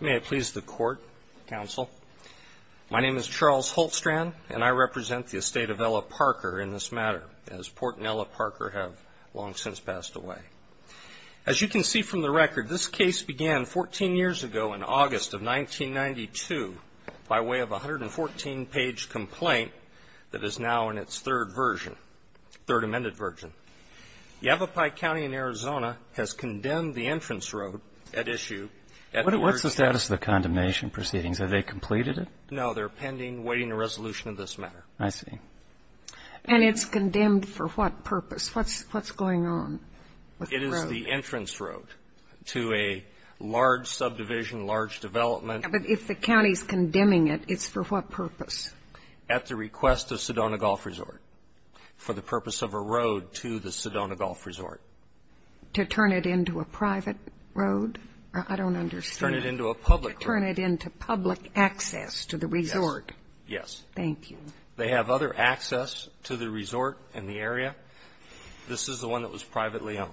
May it please the court, counsel. My name is Charles Holtstrand, and I represent the estate of Ella Parker in this matter, as Port and Ella Parker have long since passed away. As you can see from the record, this case began 14 years ago in August of 1992 by way of a 114-page complaint that is now in its third version, third amended version. Yavapai County in Arizona has condemned the entrance road at issue. What's the status of the condemnation proceedings? Have they completed it? No, they're pending, waiting a resolution of this matter. I see. And it's condemned for what purpose? What's going on with the road? It is the entrance road to a large subdivision, large development. But if the county's condemning it, it's for what purpose? At the request of Sedona Golf Resort, for the purpose of a road to the Sedona Golf Resort. To turn it into a private road? I don't understand. To turn it into a public road. To turn it into public access to the resort. Yes. Thank you. They have other access to the resort and the area. This is the one that was privately owned.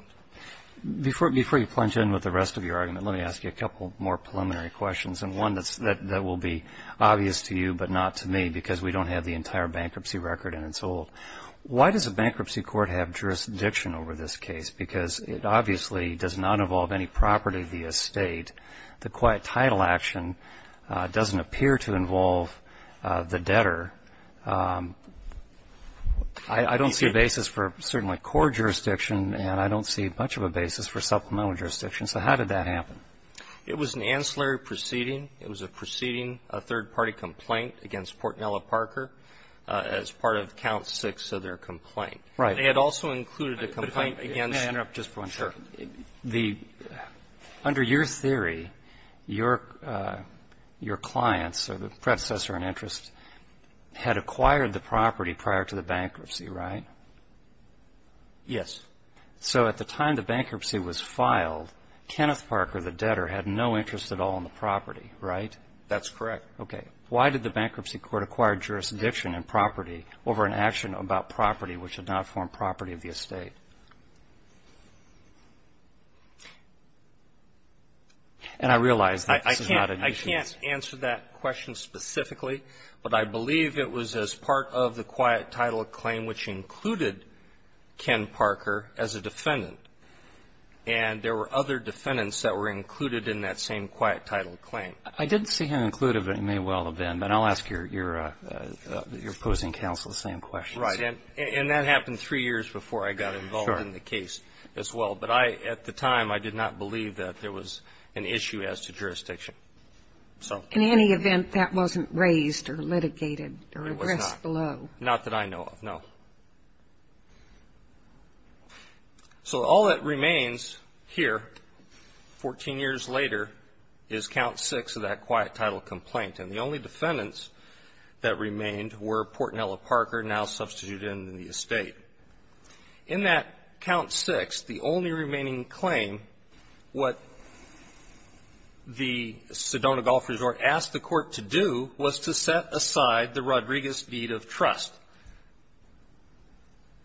Before you plunge in with the rest of your argument, let me ask you a couple more preliminary questions, and one that will be obvious to you but not to me, because we don't have the entire bankruptcy record and it's old. Why does a bankruptcy court have jurisdiction over this case? Because it obviously does not involve any property of the estate. The quiet title action doesn't appear to involve the debtor. I don't see a basis for certainly court jurisdiction, and I don't see much of a basis for supplemental jurisdiction. So how did that happen? It was an ancillary proceeding. It was a proceeding, a third-party complaint against Portnella Parker, as part of count six of their complaint. Right. They had also included a complaint against you. May I interrupt just for one second? Sure. Under your theory, your clients, or the predecessor in interest, had acquired the property prior to the bankruptcy, right? Yes. So at the time the bankruptcy was filed, Kenneth Parker, the debtor, had no interest at all in the property, right? That's correct. Okay. Why did the bankruptcy court acquire jurisdiction in property over an action about property which had not formed property of the estate? And I realize that this is not an issue. I can't answer that question specifically, but I believe it was as part of the quiet title claim which included Ken Parker as a defendant. And there were other defendants that were included in that same quiet title claim. I didn't see him included, but it may well have been. But I'll ask your opposing counsel the same question. Right. And that happened three years before I got involved in the case as well. But I, at the time, I did not believe that there was an issue as to jurisdiction. In any event, that wasn't raised or litigated or addressed below? It was not. Not that I know of, no. So all that remains here 14 years later is Count 6 of that quiet title complaint. And the only defendants that remained were Portnello Parker, now substituted into the estate. In that Count 6, the only remaining claim, what the Sedona Golf Resort asked the Court to do was to set aside the Rodriguez deed of trust.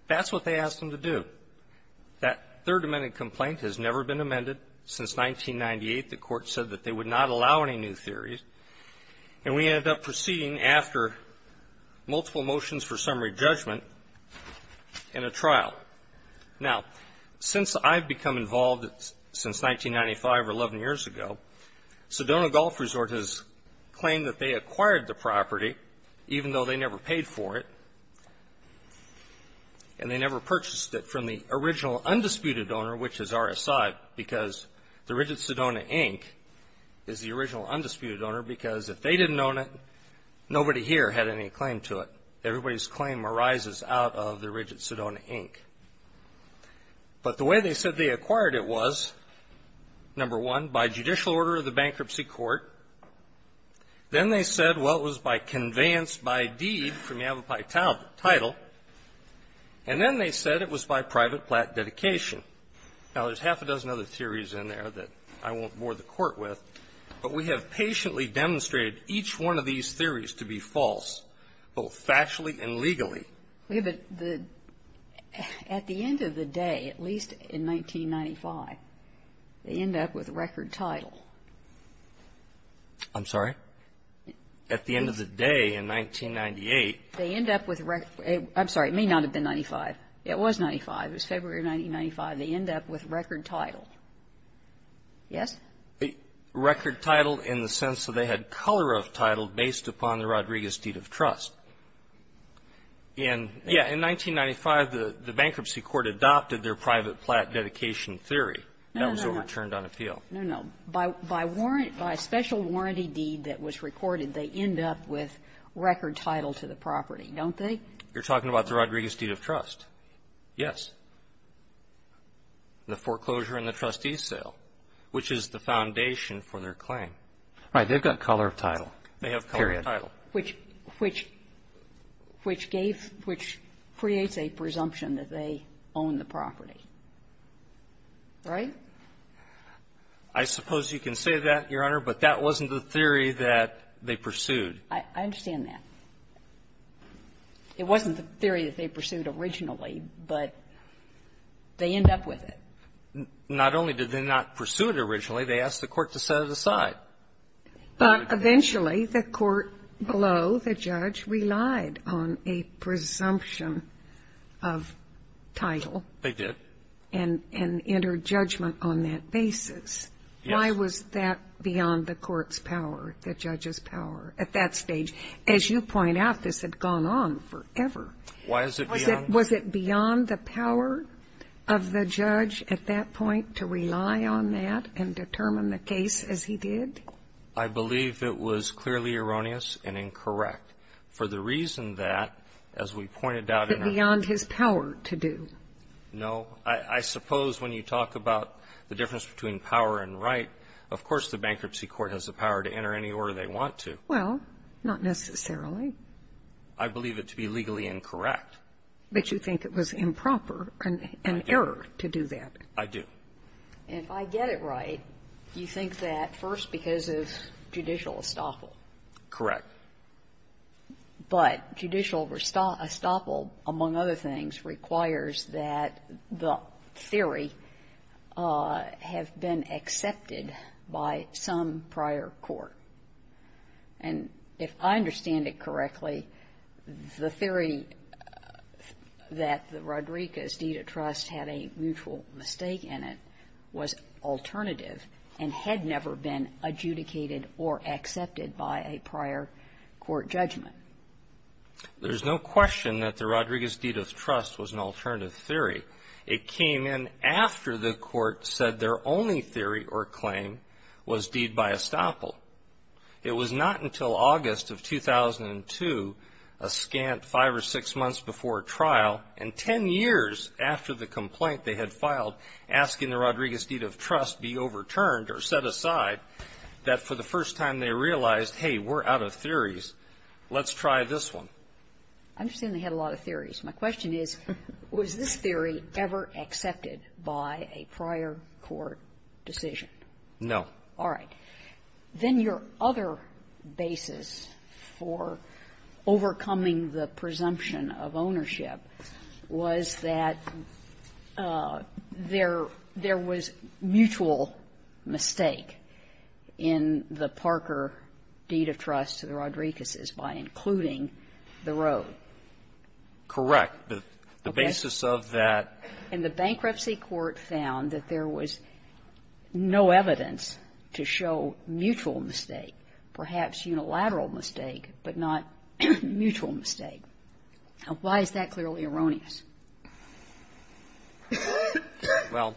That's what they asked them to do. That Third Amendment complaint has never been amended since 1998. The Court said that they would not allow any new theories. And we ended up proceeding after multiple motions for summary judgment in a trial. Now, since I've become involved since 1995 or 11 years ago, Sedona Golf Resort has claimed that they acquired the property, even though they never paid for it, and they never purchased it from the original undisputed owner, which is RSI, because the RIDGID Sedona, Inc. is the original undisputed owner because if they didn't own it, nobody here had any claim to it. Everybody's claim arises out of the RIDGID Sedona, Inc. But the way they said they acquired it was, number one, by judicial order of the bankruptcy court. Then they said, well, it was by conveyance by deed from Yavapai Title. And then they said it was by private plat dedication. Now, there's half a dozen other theories in there that I won't bore the Court with, but we have patiently demonstrated each one of these theories to be false, both factually and legally. But the at the end of the day, at least in 1995, they end up with record title. I'm sorry? At the end of the day in 1998. They end up with record. I'm sorry. It may not have been 95. It was 95. It was February of 1995. They end up with record title. Yes? Record title in the sense that they had color of title based upon the Rodriguez deed of trust. In 1995, the bankruptcy court adopted their private plat dedication theory. That was overturned on appeal. No, no. By special warranty deed that was recorded, they end up with record title to the property, don't they? You're talking about the Rodriguez deed of trust. Yes. The foreclosure and the trustee sale, which is the foundation for their claim. All right. They've got color of title. They have color of title. Period. Which gave, which creates a presumption that they own the property, right? I suppose you can say that, Your Honor, but that wasn't the theory that they pursued. I understand that. It wasn't the theory that they pursued originally, but they end up with it. Not only did they not pursue it originally, they asked the court to set it aside. But eventually, the court below the judge relied on a presumption of title. They did. And entered judgment on that basis. Yes. Why was that beyond the court's power, the judge's power at that stage? As you point out, this had gone on forever. Why is it beyond? Was it beyond the power of the judge at that point to rely on that and determine the case as he did? I believe it was clearly erroneous and incorrect for the reason that, as we pointed out in our ---- Was it beyond his power to do? No. I suppose when you talk about the difference between power and right, of course the bankruptcy court has the power to enter any order they want to. Well, not necessarily. I believe it to be legally incorrect. But you think it was improper and an error to do that. I do. If I get it right, you think that first because of judicial estoppel. Correct. But judicial estoppel, among other things, requires that the theory have been accepted by some prior court. And if I understand it correctly, the theory that the Rodriguez deed of trust had a mutual mistake in it was alternative and had never been adjudicated or accepted by a prior court judgment. There's no question that the Rodriguez deed of trust was an alternative theory. It came in after the court said their only theory or claim was deed by estoppel. It was not until August of 2002, a scant five or six months before trial, and ten years after the complaint they had filed asking the Rodriguez deed of trust be overturned or set aside, that for the first time they realized, hey, we're out of theories. Let's try this one. I understand they had a lot of theories. My question is, was this theory ever accepted by a prior court decision? No. All right. Then your other basis for overcoming the presumption of ownership was that there was mutual mistake in the Parker deed of trust to the Rodriguez's by including the road. Correct. The basis of that ---- to show mutual mistake, perhaps unilateral mistake, but not mutual mistake. Why is that clearly erroneous? Well,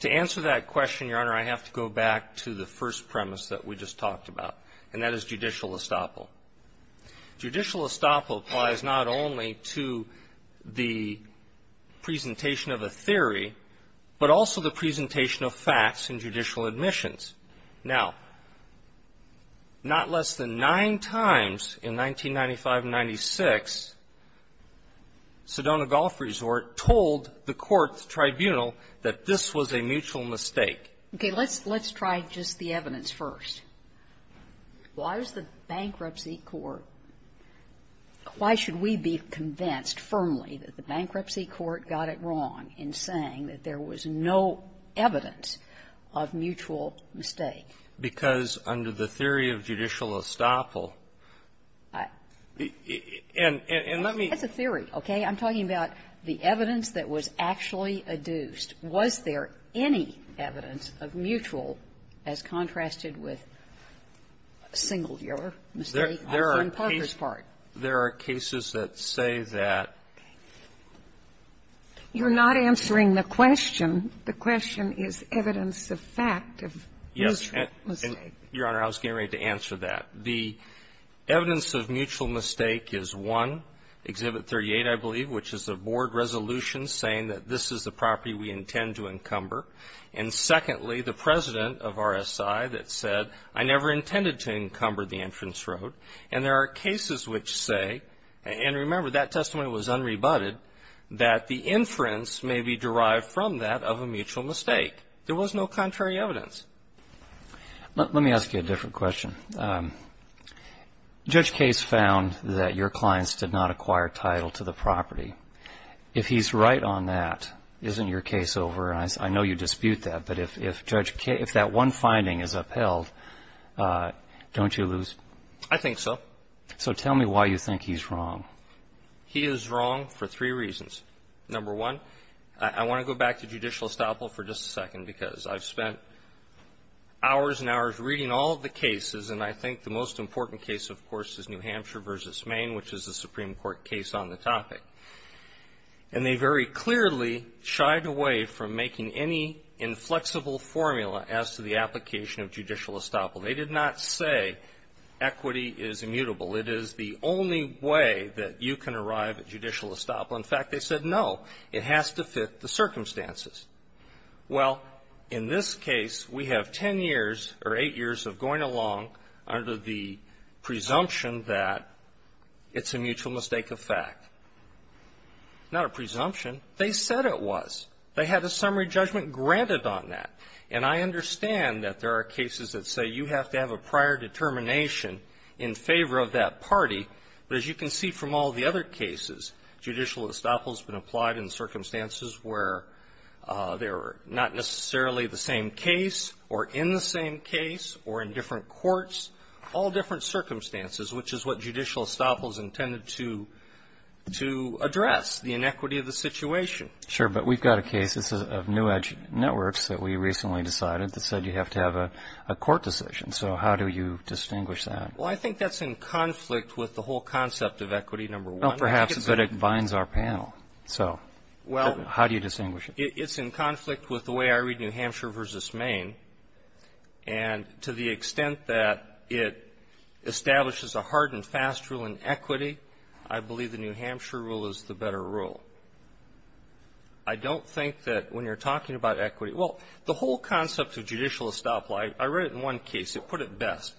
to answer that question, Your Honor, I have to go back to the first premise that we just talked about, and that is judicial estoppel. Judicial estoppel applies not only to the presentation of a theory, but also the presentation of facts in judicial admissions. Now, not less than nine times in 1995 and 1996, Sedona Golf Resort told the court's tribunal that this was a mutual mistake. Okay. Let's try just the evidence first. Why was the Bankruptcy Court ---- why should we be convinced firmly that the Bankruptcy Court got it wrong in saying that there was no evidence of mutual mistake? Because under the theory of judicial estoppel, and let me ---- That's a theory, okay? I'm talking about the evidence that was actually adduced. Was there any evidence of mutual as contrasted with single-dealer mistake also in Parker's part? There are cases that say that ---- You're not answering the question. The question is evidence of fact of mutual mistake. Yes. Your Honor, I was getting ready to answer that. The evidence of mutual mistake is, one, Exhibit 38, I believe, which is a board resolution saying that this is the property we intend to encumber. And secondly, the president of RSI that said, I never intended to encumber the entrance road. And there are cases which say, and remember, that testimony was unrebutted, that the inference may be derived from that of a mutual mistake. There was no contrary evidence. Let me ask you a different question. Judge Case found that your clients did not acquire title to the property. If he's right on that, isn't your case over? And I know you dispute that. But if Judge Case, if that one finding is upheld, don't you lose ---- I think so. So tell me why you think he's wrong. He is wrong for three reasons. Number one, I want to go back to judicial estoppel for just a second because I've spent hours and hours reading all of the cases, and I think the most important case, of course, is New Hampshire v. Maine, which is a Supreme Court case on the topic. And they very clearly shied away from making any inflexible formula as to the application of judicial estoppel. They did not say equity is immutable. It is the only way that you can arrive at judicial estoppel. In fact, they said, no, it has to fit the circumstances. Well, in this case, we have ten years or eight years of going along under the presumption that it's a mutual mistake of fact. Not a presumption. They said it was. They had a summary judgment granted on that. And I understand that there are cases that say you have to have a prior determination in favor of that party. But as you can see from all the other cases, judicial estoppel has been applied in circumstances where they were not necessarily the same case or in the same case or in different courts, all different circumstances, which is what judicial estoppel is intended to address, the inequity of the situation. Sure, but we've got a case of New Edge Networks that we recently decided that said you have to have a court decision. So how do you distinguish that? Well, I think that's in conflict with the whole concept of equity, number one. Well, perhaps, but it binds our panel. So how do you distinguish it? It's in conflict with the way I read New Hampshire v. Maine. And to the extent that it establishes a hard and fast rule in equity, I believe the New Hampshire rule is the better rule. I don't think that when you're talking about equity, well, the whole concept of judicial estoppel, I read it in one case. It put it best.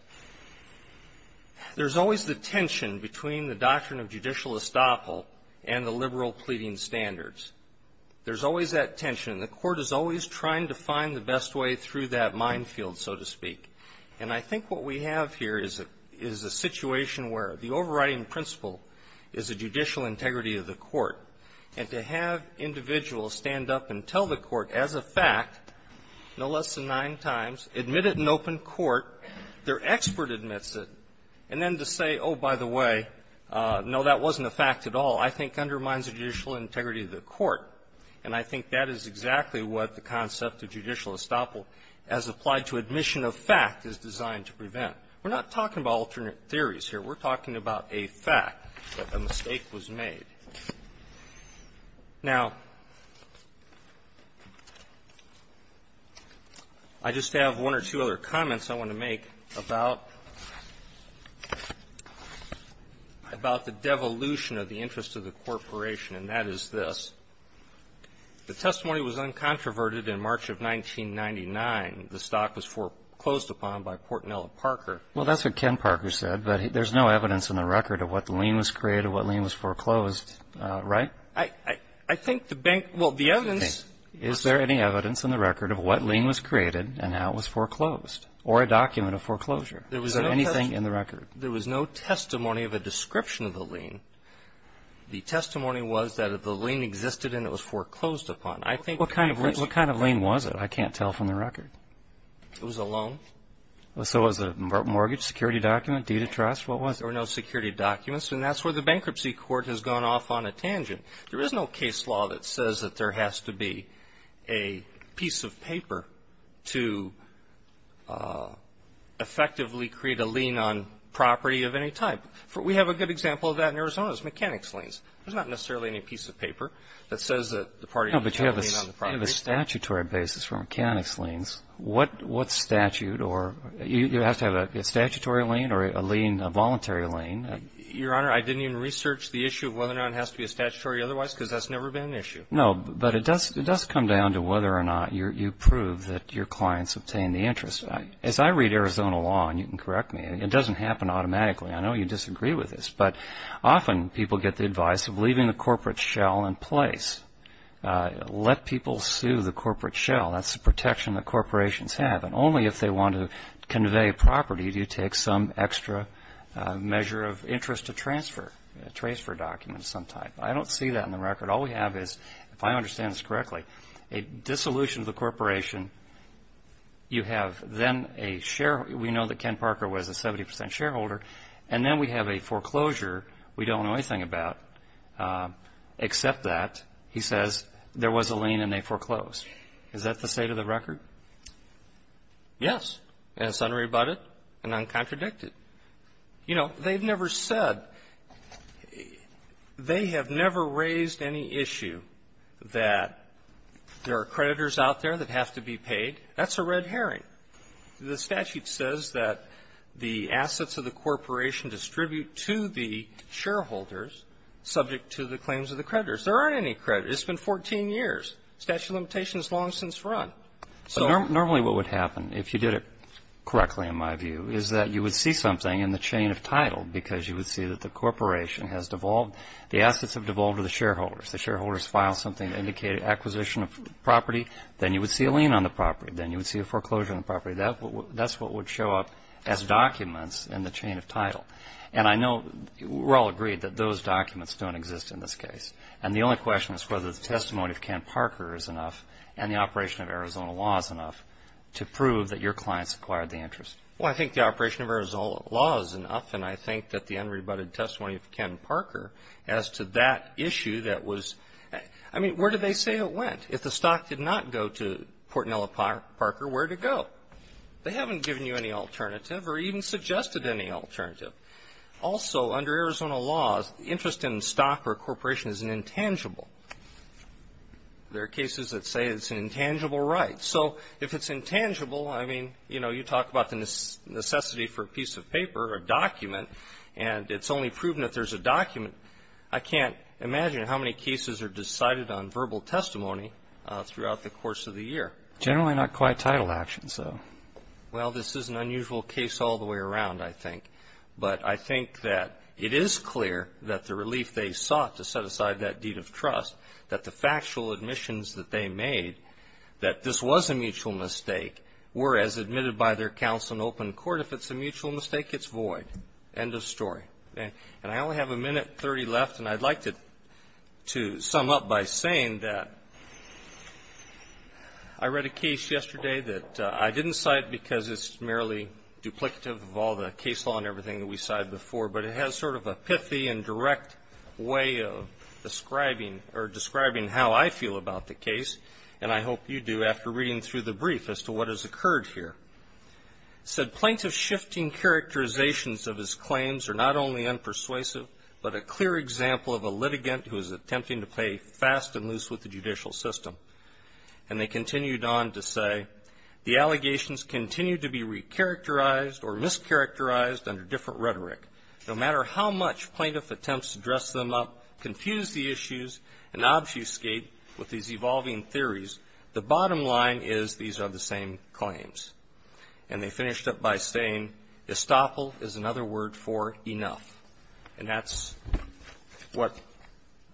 There's always the tension between the doctrine of judicial estoppel and the liberal pleading standards. There's always that tension. The court is always trying to find the best way through that minefield, so to speak. And I think what we have here is a situation where the overriding principle is the judicial integrity of the court. And to have individuals stand up and tell the court as a fact, no less than nine times, admit it in open court, their expert admits it, and then to say, oh, by the way, no, that wasn't a fact at all, I think undermines the judicial integrity of the court. And I think that is exactly what the concept of judicial estoppel as applied to admission of fact is designed to prevent. We're not talking about alternate theories here. We're talking about a fact that a mistake was made. Now, I just have one or two other comments I want to make about the devolution of the interest of the corporation, and that is this. The testimony was uncontroverted in March of 1999. The stock was foreclosed upon by Portnella Parker. Well, that's what Ken Parker said, but there's no evidence in the record of what the lien was created, what lien was foreclosed, right? I think the bank – well, the evidence – Is there any evidence in the record of what lien was created and how it was foreclosed or a document of foreclosure? There was no testimony of a description of the lien. The testimony was that the lien existed and it was foreclosed upon. I think – What kind of lien was it? I can't tell from the record. It was a loan. So was it a mortgage, security document, deed of trust? What was it? There were no security documents, and that's where the bankruptcy court has gone off on a tangent. There is no case law that says that there has to be a piece of paper to effectively create a lien on property of any type. We have a good example of that in Arizona. It's mechanics liens. There's not necessarily any piece of paper that says that the party has to have a lien on the property. No, but you have a statutory basis for mechanics liens. What statute or – you have to have a statutory lien or a lien – a voluntary lien. Your Honor, I didn't even research the issue of whether or not it has to be a statutory otherwise because that's never been an issue. No, but it does come down to whether or not you prove that your clients obtain the interest. As I read Arizona law, and you can correct me, it doesn't happen automatically. I know you disagree with this, but often people get the advice of leaving the corporate shell in place. Let people sue the corporate shell. That's the protection that corporations have. And only if they want to convey property do you take some extra measure of interest to transfer a transfer document of some type. I don't see that in the record. All we have is, if I understand this correctly, a dissolution of the corporation. You have then a – we know that Ken Parker was a 70 percent shareholder, and then we have a foreclosure we don't know anything about except that he says there was a lien and they foreclosed. Is that the state of the record? Yes. And it's unrebutted and uncontradicted. You know, they've never said – they have never raised any issue that there are creditors out there that have to be paid. That's a red herring. The statute says that the assets of the corporation distribute to the shareholders subject to the claims of the creditors. There aren't any creditors. It's been 14 years. The statute of limitations has long since run. Normally what would happen, if you did it correctly in my view, is that you would see something in the chain of title because you would see that the corporation has devolved – the assets have devolved to the shareholders. If the shareholders file something indicating acquisition of property, then you would see a lien on the property. Then you would see a foreclosure on the property. That's what would show up as documents in the chain of title. And I know we're all agreed that those documents don't exist in this case. And the only question is whether the testimony of Ken Parker is enough and the operation of Arizona law is enough to prove that your clients acquired the interest. Well, I think the operation of Arizona law is enough, and I think that the unrebutted testimony of Ken Parker as to that issue that was – I mean, where do they say it went? If the stock did not go to Portnella Parker, where did it go? They haven't given you any alternative or even suggested any alternative. Also, under Arizona law, the interest in stock or corporation is an intangible. There are cases that say it's an intangible right. So if it's intangible, I mean, you know, you talk about the necessity for a piece of paper or a document, and it's only proven that there's a document. I can't imagine how many cases are decided on verbal testimony throughout the course of the year. Generally not quite title actions, though. Well, this is an unusual case all the way around, I think. But I think that it is clear that the relief they sought to set aside that deed of trust, that the factual admissions that they made, that this was a mutual mistake, were as admitted by their counsel in open court. If it's a mutual mistake, it's void. End of story. And I only have a minute 30 left, and I'd like to sum up by saying that I read a case yesterday that I didn't cite because it's merely duplicative of all the case law and everything that we cited before, but it has sort of a pithy and direct way of describing – or describing how I feel about the case, and I hope you do after reading through the brief as to what has occurred here. Said plaintiff's shifting characterizations of his claims are not only unpersuasive, but a clear example of a litigant who is attempting to play fast and loose with the judicial system. And they continued on to say, the allegations continue to be recharacterized or mischaracterized under different rhetoric. No matter how much plaintiff attempts to dress them up, confuse the issues, and obfuscate with these evolving theories, the bottom line is these are the same claims. And they finished up by saying, estoppel is another word for enough. And that's what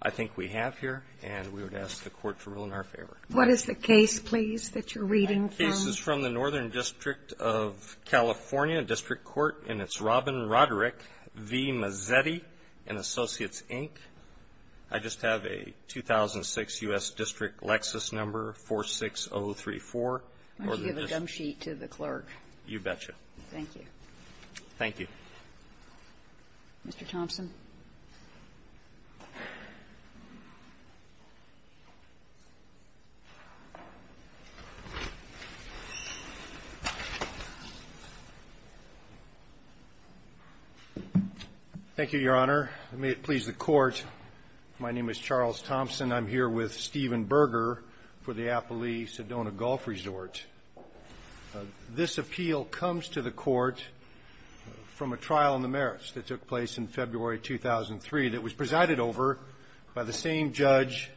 I think we have here, and we would ask the Court to rule in our favor. What is the case, please, that you're reading from? The case is from the Northern District of California District Court, and it's Robin Roderick v. Mazzetti and Associates, Inc. I just have a 2006 U.S. District Lexus number, 46034. Why don't you give a gum sheet to the clerk? You betcha. Thank you. Thank you. Mr. Thompson? Thank you, Your Honor. May it please the Court. My name is Charles Thompson. I'm here with Stephen Berger for the Appali Sedona Golf Resort. This appeal comes to the Court from a trial on the merits that took place in February 2010. And I'm here with Stephen Berger. This is a trial that took place in February 2003 that was presided over by the same judge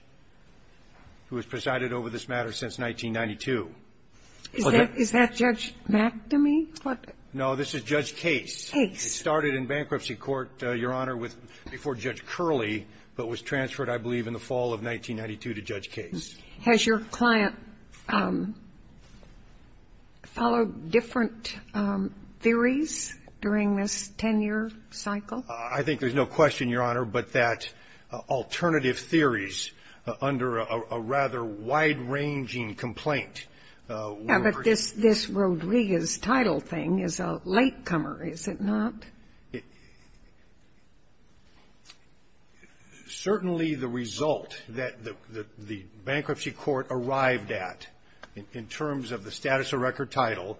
who has presided over this matter since 1992. Is that Judge McAmely? No, this is Judge Case. Case. It started in bankruptcy court, Your Honor, with before Judge Curley, but was transferred, I believe, in the fall of 1992 to Judge Case. Has your client followed different theories during this 10-year cycle? I think there's no question, Your Honor, but that alternative theories under a rather wide-ranging complaint were — Yeah, but this Rodriguez title thing is a latecomer, is it not? Certainly, the result that the bankruptcy court arrived at in terms of the status of record title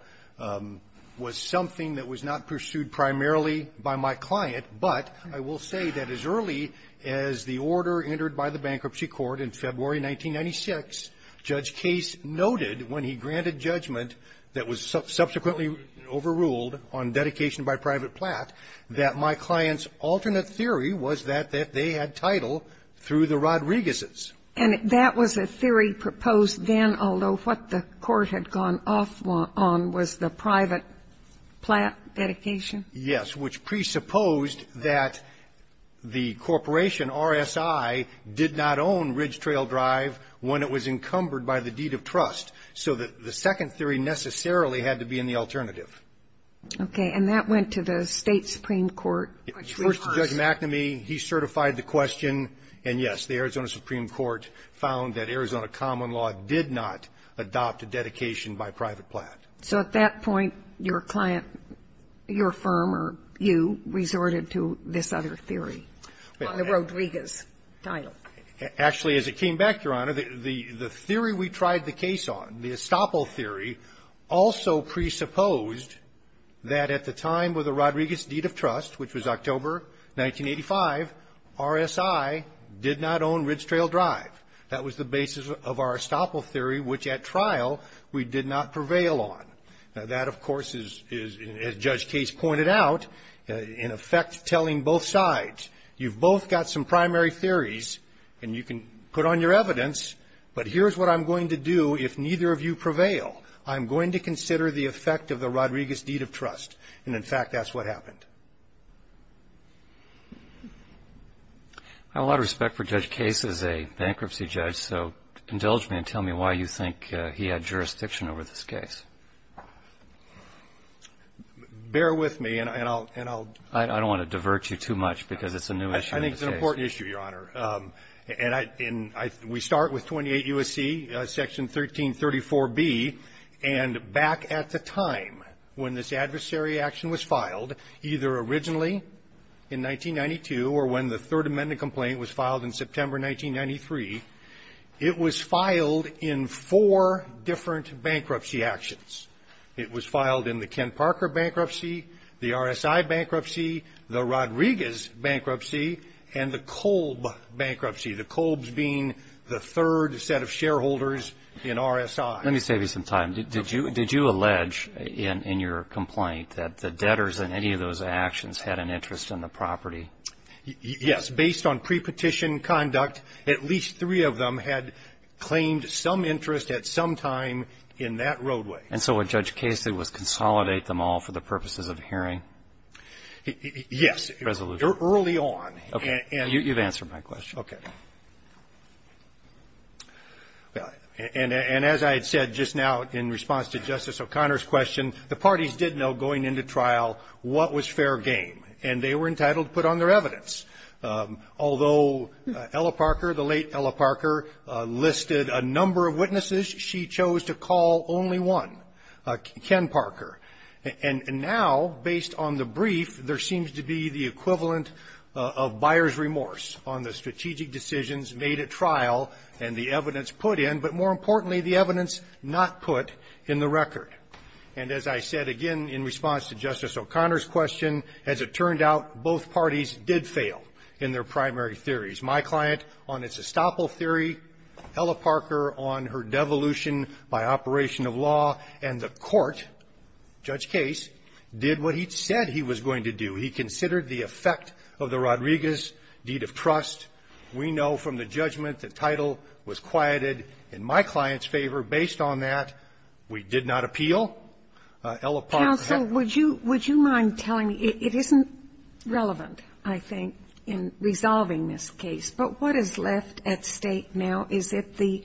was something that was not pursued primarily by my client, but I will say that as early as the order entered by the bankruptcy court in February 1996, Judge Case noted when he granted judgment that was subsequently overruled on dedication by private plat, that my client's alternate theory was that they had title through the Rodriguez's. And that was a theory proposed then, although what the court had gone off on was the private plat dedication? Yes, which presupposed that the corporation, RSI, did not own Ridge Trail Drive when it was encumbered by the deed of trust. So the second theory necessarily had to be in the alternative. Okay. And that went to the State Supreme Court? It went to Judge McNamee. He certified the question. And, yes, the Arizona Supreme Court found that Arizona common law did not adopt a dedication by private plat. So at that point, your client, your firm, or you, resorted to this other theory on the Rodriguez title? Actually, as it came back, Your Honor, the theory we tried the case on, the estoppel theory, also presupposed that at the time with the Rodriguez deed of trust, which was October 1985, RSI did not own Ridge Trail Drive. That was the basis of our estoppel theory, which at trial we did not prevail on. Now that, of course, as Judge Case pointed out, in effect telling both sides, you've both got some primary theories and you can put on your evidence, but here's what I'm going to do if neither of you prevail. I'm going to consider the effect of the Rodriguez deed of trust. And, in fact, that's what happened. I have a lot of respect for Judge Case as a bankruptcy judge, so indulge me and tell me why you think he had jurisdiction over this case. Bear with me, and I'll — I don't want to divert you too much because it's a new issue in the case. I think it's an important issue, Your Honor. And I — and we start with 28 U.S.C., Section 1334B. And back at the time when this adversary action was filed, either originally in 1992 or when the Third Amendment complaint was filed in September 1993, it was filed in four different bankruptcy actions. It was filed in the Ken Parker bankruptcy, the RSI bankruptcy, the Rodriguez bankruptcy, and the Kolb bankruptcy, the Kolbs being the third set of shareholders in RSI. Let me save you some time. Did you — did you allege in your complaint that the debtors in any of those actions had an interest in the property? Yes. Based on pre-petition conduct, at least three of them had claimed some interest at some time in that roadway. And so what Judge Case did was consolidate them all for the purposes of hearing? Yes. Resolution. Early on. Okay. You've answered my question. Okay. And as I had said just now in response to Justice O'Connor's question, the parties did know going into trial what was fair game. And they were entitled to put on their evidence. Although Ella Parker, the late Ella Parker, listed a number of witnesses, she chose to call only one, Ken Parker. And now, based on the brief, there seems to be the equivalent of buyer's remorse on the strategic decisions made at trial and the evidence put in, but more importantly, the evidence not put in the record. And as I said again in response to Justice O'Connor's question, as it turned out, both parties did fail in their primary theories. My client on his estoppel theory, Ella Parker on her devolution by operation of law, and the court, Judge Case, did what he said he was going to do. He considered the effect of the Rodriguez deed of trust. We know from the judgment the title was quieted in my client's favor. Based on that, we did not appeal. Ella Parker had to go. Counsel, would you mind telling me, it isn't relevant, I think, in resolving this case, but what is left at stake now? Is it the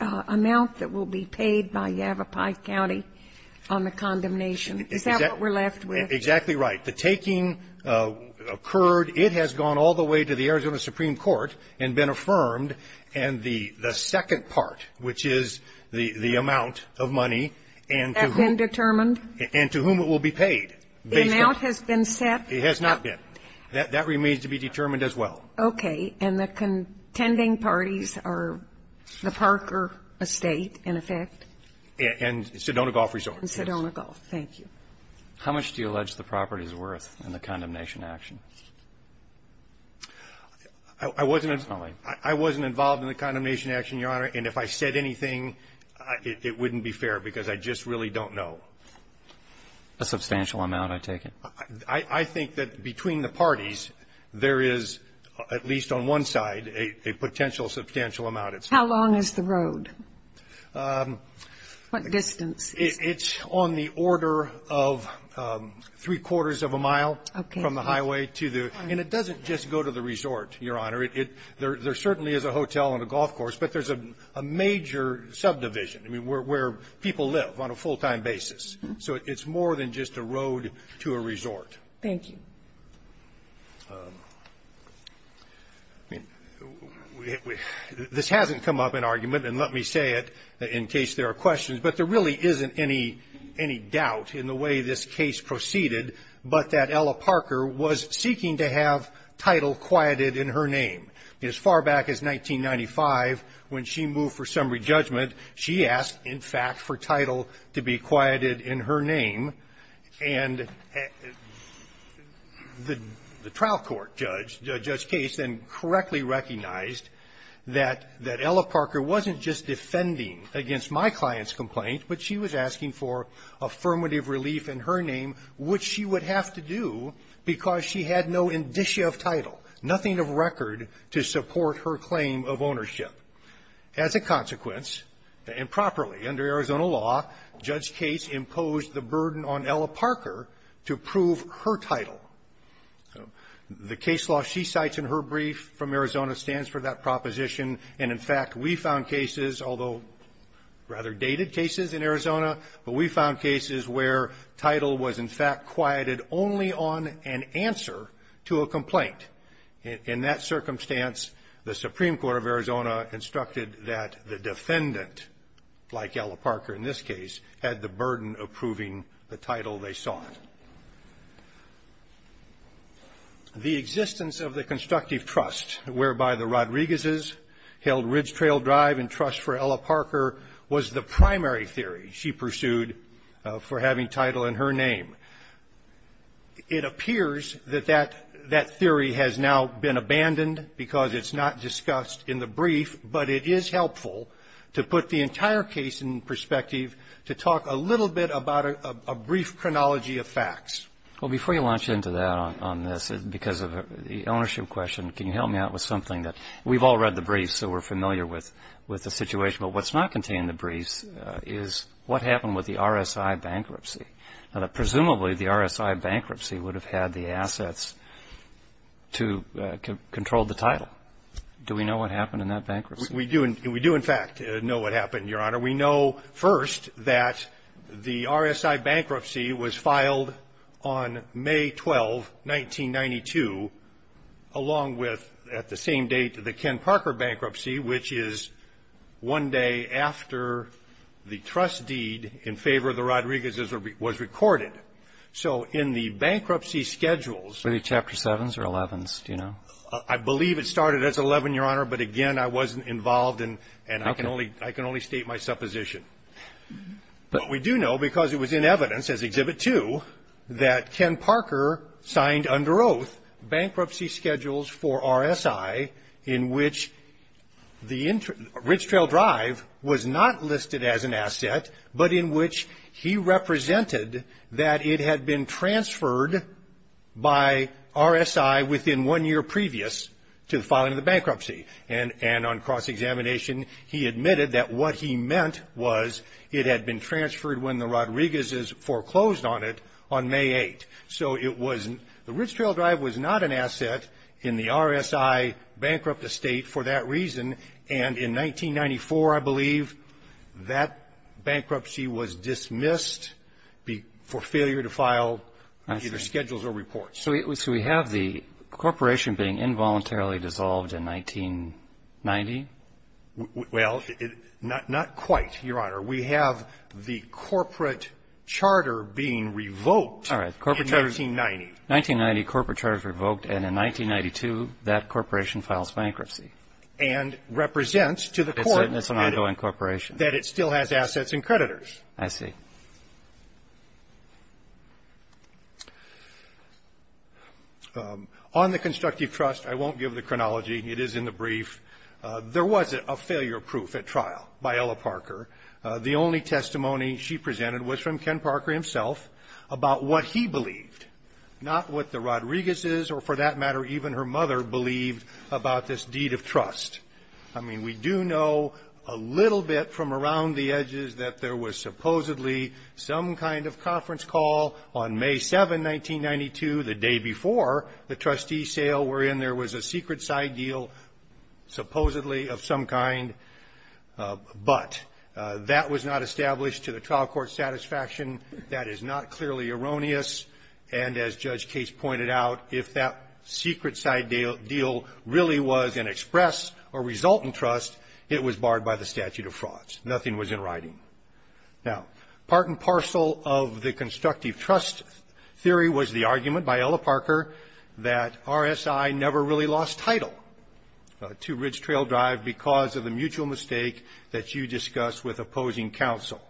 amount that will be paid by Yavapai County on the condemnation? Is that what we're left with? Exactly right. The taking occurred. It has gone all the way to the Arizona Supreme Court and been affirmed. And the second part, which is the amount of money and to whom it will be paid. The amount has been set? It has not been. That remains to be determined as well. Okay. And the contending parties are the Parker Estate, in effect? And Sedona Golf Resort. Sedona Golf. Thank you. How much do you allege the property is worth in the condemnation action? I wasn't involved in the condemnation action, Your Honor, and if I said anything, it wouldn't be fair because I just really don't know. A substantial amount, I take it? I think that between the parties, there is, at least on one side, a potential substantial amount. How long is the road? What distance? It's on the order of three-quarters of a mile from the highway to the – and it doesn't just go to the resort, Your Honor. There certainly is a hotel and a golf course, but there's a major subdivision where people live on a full-time basis. So it's more than just a road to a resort. Thank you. This hasn't come up in argument, and let me say it in case there are questions, but there really isn't any doubt in the way this case proceeded, but that Ella Parker was seeking to have Title quieted in her name. As far back as 1995, when she moved for summary judgment, she asked, in fact, for Title to be quieted in her name, and the trial court judge, Judge Case, then correctly recognized that Ella Parker wasn't just defending against my client's complaint, but she was asking for affirmative relief in her name, which she would have to do because she had no indicia of Title, nothing of record to support her claim of ownership. As a consequence, and properly under Arizona law, Judge Case imposed the burden on Ella Parker to prove her Title. The case law she cites in her brief from Arizona stands for that proposition, and, in fact, we found cases, although rather dated cases in Arizona, but we found cases where Title was, in fact, quieted only on an answer to a complaint. In that circumstance, the Supreme Court of Arizona instructed that the defendant, like Ella Parker in this case, had the burden of proving the Title they sought. The existence of the constructive trust whereby the Rodriguez's held Ridge Trail Drive and trust for Ella Parker was the primary theory she pursued for having Title in her name. It appears that that theory has now been abandoned because it's not discussed in the brief, but it is helpful to put the entire case in perspective to talk a little bit about a brief chronology of facts. Well, before you launch into that on this, because of the ownership question, can you help me out with something that we've all read the brief, so we're familiar with the situation, but what's not contained in the brief is what happened with the RSI bankruptcy? Presumably, the RSI bankruptcy would have had the assets to control the Title. Do we know what happened in that bankruptcy? We do, in fact, know what happened, Your Honor. We know, first, that the RSI bankruptcy was filed on May 12, 1992, along with, at the same date, the Ken Parker bankruptcy, which is one day after the trust deed in favor of the Rodriguez's was recorded. So in the bankruptcy schedules ---- Were they Chapter 7s or 11s? Do you know? I believe it started as 11, Your Honor, but, again, I wasn't involved and I can only state my supposition. But we do know, because it was in evidence as Exhibit 2, that Ken Parker signed under oath bankruptcy schedules for RSI in which the Rich Trail Drive was not listed as an asset, but in which he represented that it had been transferred by RSI within one year previous to the filing of the bankruptcy. And on cross-examination, he admitted that what he meant was it had been transferred when the Rodriguez's foreclosed on it on May 8. So it was ---- the Rich Trail Drive was not an asset in the RSI bankrupt estate for that reason, and in 1994, I believe, that bankruptcy was dismissed for failure to file either schedules or reports. So we have the corporation being involuntarily dissolved in 1990? Well, not quite, Your Honor. We have the corporate charter being revoked. All right. Corporate charter. In 1990. In 1990, corporate charter was revoked, and in 1992, that corporation files bankruptcy. And represents to the court that it still has assets and creditors. I see. On the constructive trust, I won't give the chronology. It is in the brief. There was a failure proof at trial by Ella Parker. The only testimony she presented was from Ken Parker himself about what he believed, not what the Rodriguez's or, for that matter, even her mother believed about this deed of trust. I mean, we do know a little bit from around the edges that there was supposedly some kind of conference call on May 7, 1992, the day before the trustee sale, wherein there was a secret side deal supposedly of some kind. But that was not established to the trial court's satisfaction. That is not clearly erroneous. And as Judge Case pointed out, if that secret side deal really was an express or resultant trust, it was barred by the statute of frauds. Nothing was in writing. Now, part and parcel of the constructive trust theory was the argument by Ella Parker that RSI never really lost title to Ridge Trail Drive because of the mutual mistake that you discussed with opposing counsel.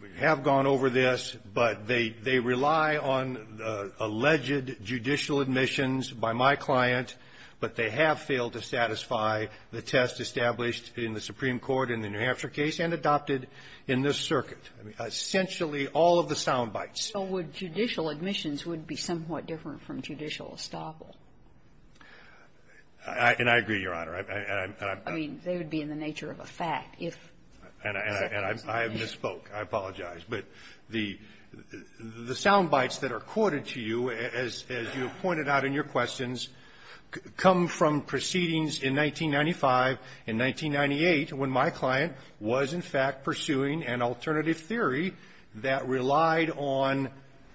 We have gone over this, but they rely on alleged judicial admissions by my client, but they have failed to satisfy the test established in the Supreme Court in the New Hampshire case and adopted in this circuit. I mean, essentially, all of the sound bites. So judicial admissions would be somewhat different from judicial estoppel. And I agree, Your Honor. I mean, they would be in the nature of a fact if. And I have misspoke. I apologize. But the sound bites that are quoted to you, as you have pointed out in your questions, come from proceedings in 1995, in 1998, when my client was, in fact, pursuing an alternative theory that relied on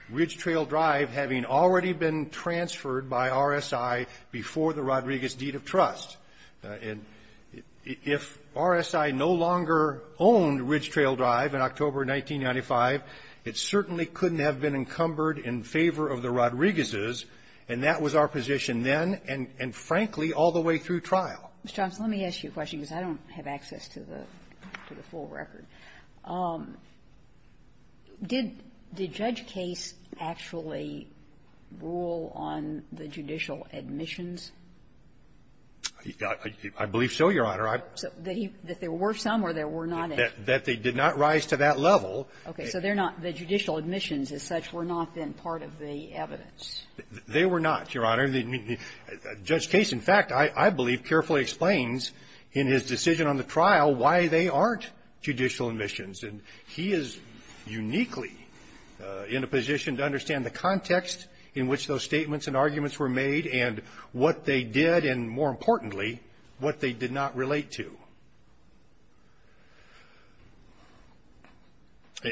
Ridge Trail Drive having already been transferred by RSI before the Rodriguez deed of trust. And if RSI no longer owned Ridge Trail Drive in October 1995, it certainly couldn't have been encumbered in favor of the Rodriguezes, and that was our position then and, frankly, all the way through trial. Ms. Johnson, let me ask you a question because I don't have access to the full record. Did Judge Case actually rule on the judicial admissions? I believe so, Your Honor. So that there were some or there were not any? That they did not rise to that level. Okay. So they're not the judicial admissions as such were not then part of the evidence. They were not, Your Honor. Judge Case, in fact, I believe carefully explains in his decision on the trial why they aren't judicial admissions. And he is uniquely in a position to understand the context in which those statements and arguments were made and what they did and, more importantly, what they did not relate to.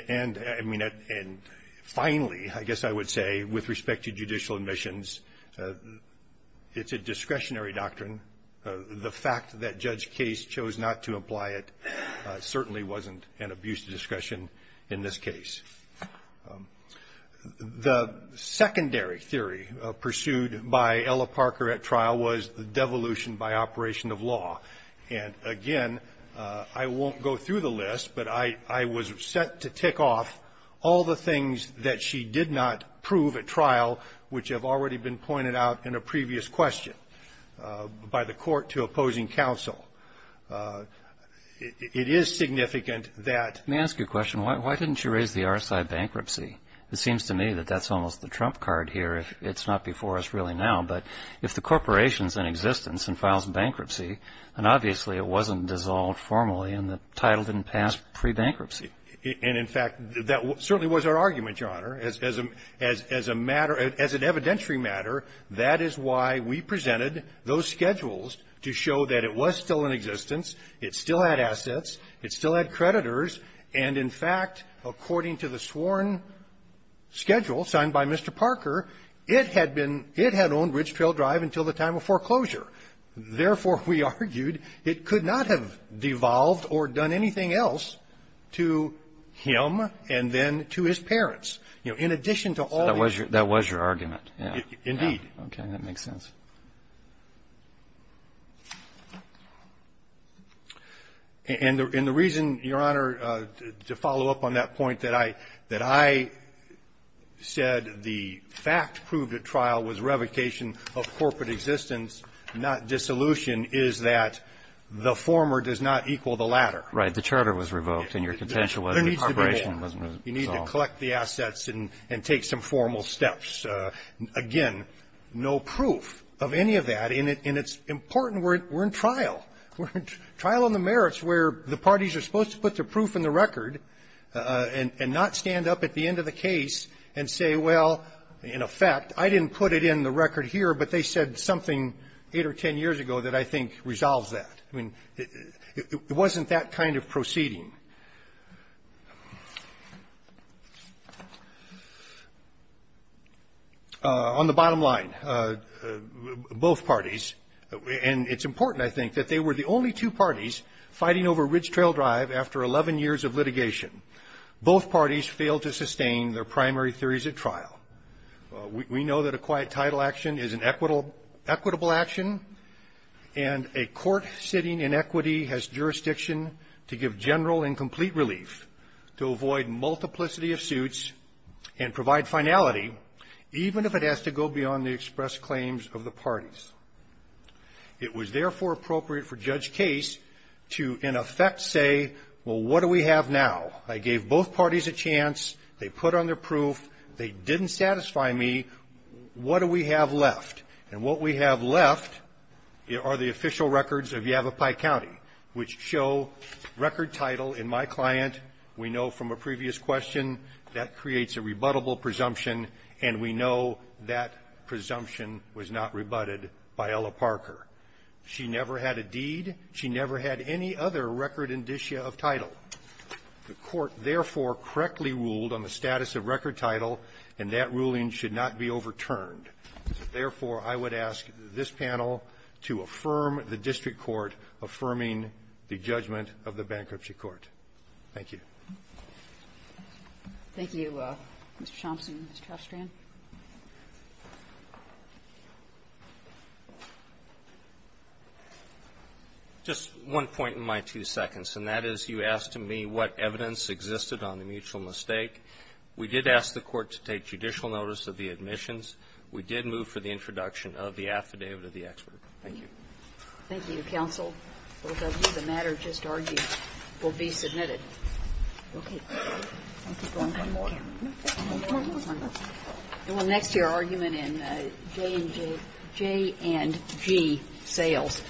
And, I mean, and finally, I guess I would say, with respect to judicial admissions, it's a discretionary doctrine. The fact that Judge Case chose not to apply it certainly wasn't an abuse of discussion in this case. The secondary theory pursued by Ella Parker at trial was the devolution by operation of law. And, again, I won't go through the list, but I was set to tick off all the things that she did not prove at trial, which have already been pointed out in a previous question by the court to opposing counsel. It is significant that the legislation was not devolved. Let me ask you a question. Why didn't you raise the RSI bankruptcy? It seems to me that that's almost the trump card here. It's not before us really now. But if the corporation is in existence and files bankruptcy, then obviously it wasn't dissolved formally and the title didn't pass pre-bankruptcy. And, in fact, that certainly was our argument, Your Honor. As a matter of ---- as an evidentiary matter, that is why we presented those schedules to show that it was still in existence, it still had assets, it still had creditors, and, in fact, according to the sworn schedule signed by Mr. Parker, it had been ---- it had owned Ridge Trail Drive until the time of foreclosure. Therefore, we argued it could not have devolved or done anything else to him and then to his parents, you know, in addition to all the other ---- So that was your argument, yeah. Indeed. Okay. That makes sense. And the reason, Your Honor, to follow up on that point that I said the fact proved at trial was revocation of corporate existence, not dissolution, is that the former does not equal the latter. Right. The charter was revoked and your contention was the corporation wasn't dissolved. The government is out of a position to go out and collect the assets and take some formal steps. Again, no proof of any of that, and it's important. We're in trial. We're in trial on the merits where the parties are supposed to put their proof in the record and not stand up at the end of the case and say, well, in effect, I didn't put it in the record here, but they said something 8 or 10 years ago that I think resolves that. I mean, it wasn't that kind of proceeding. On the bottom line, both parties, and it's important, I think, that they were the only two parties fighting over Ridge Trail Drive after 11 years of litigation. Both parties failed to sustain their primary theories at trial. We know that a quiet title action is an equitable action, and a court sitting in equity has jurisdiction to give general and complete relief, to avoid multiplicity of suits, and provide finality, even if it has to go beyond the express claims of the parties. It was therefore appropriate for Judge Case to, in effect, say, well, what do we have now? I gave both parties a chance. They put on their proof. They didn't satisfy me. What do we have left? And what we have left are the official records of Yavapai County, which show record title in my client. We know from a previous question that creates a rebuttable presumption, and we know that presumption was not rebutted by Ella Parker. She never had a deed. She never had any other record indicia of title. The Court, therefore, correctly ruled on the status of record title, and that ruling should not be overturned. Therefore, I would ask this panel to affirm the district court affirming the judgment of the bankruptcy court. Thank you. Kagan. Thank you, Mr. Chomsky. Mr. Ostrand. Just one point in my two seconds, and that is you asked me what evidence existed on the mutual mistake. We did ask the Court to take judicial notice of the admissions. We did move for the introduction of the affidavit of the expert. Thank you. Thank you, counsel. The matter just argued will be submitted. Okay. Thank you. Thank you. And we'll next hear argument in J&G sales.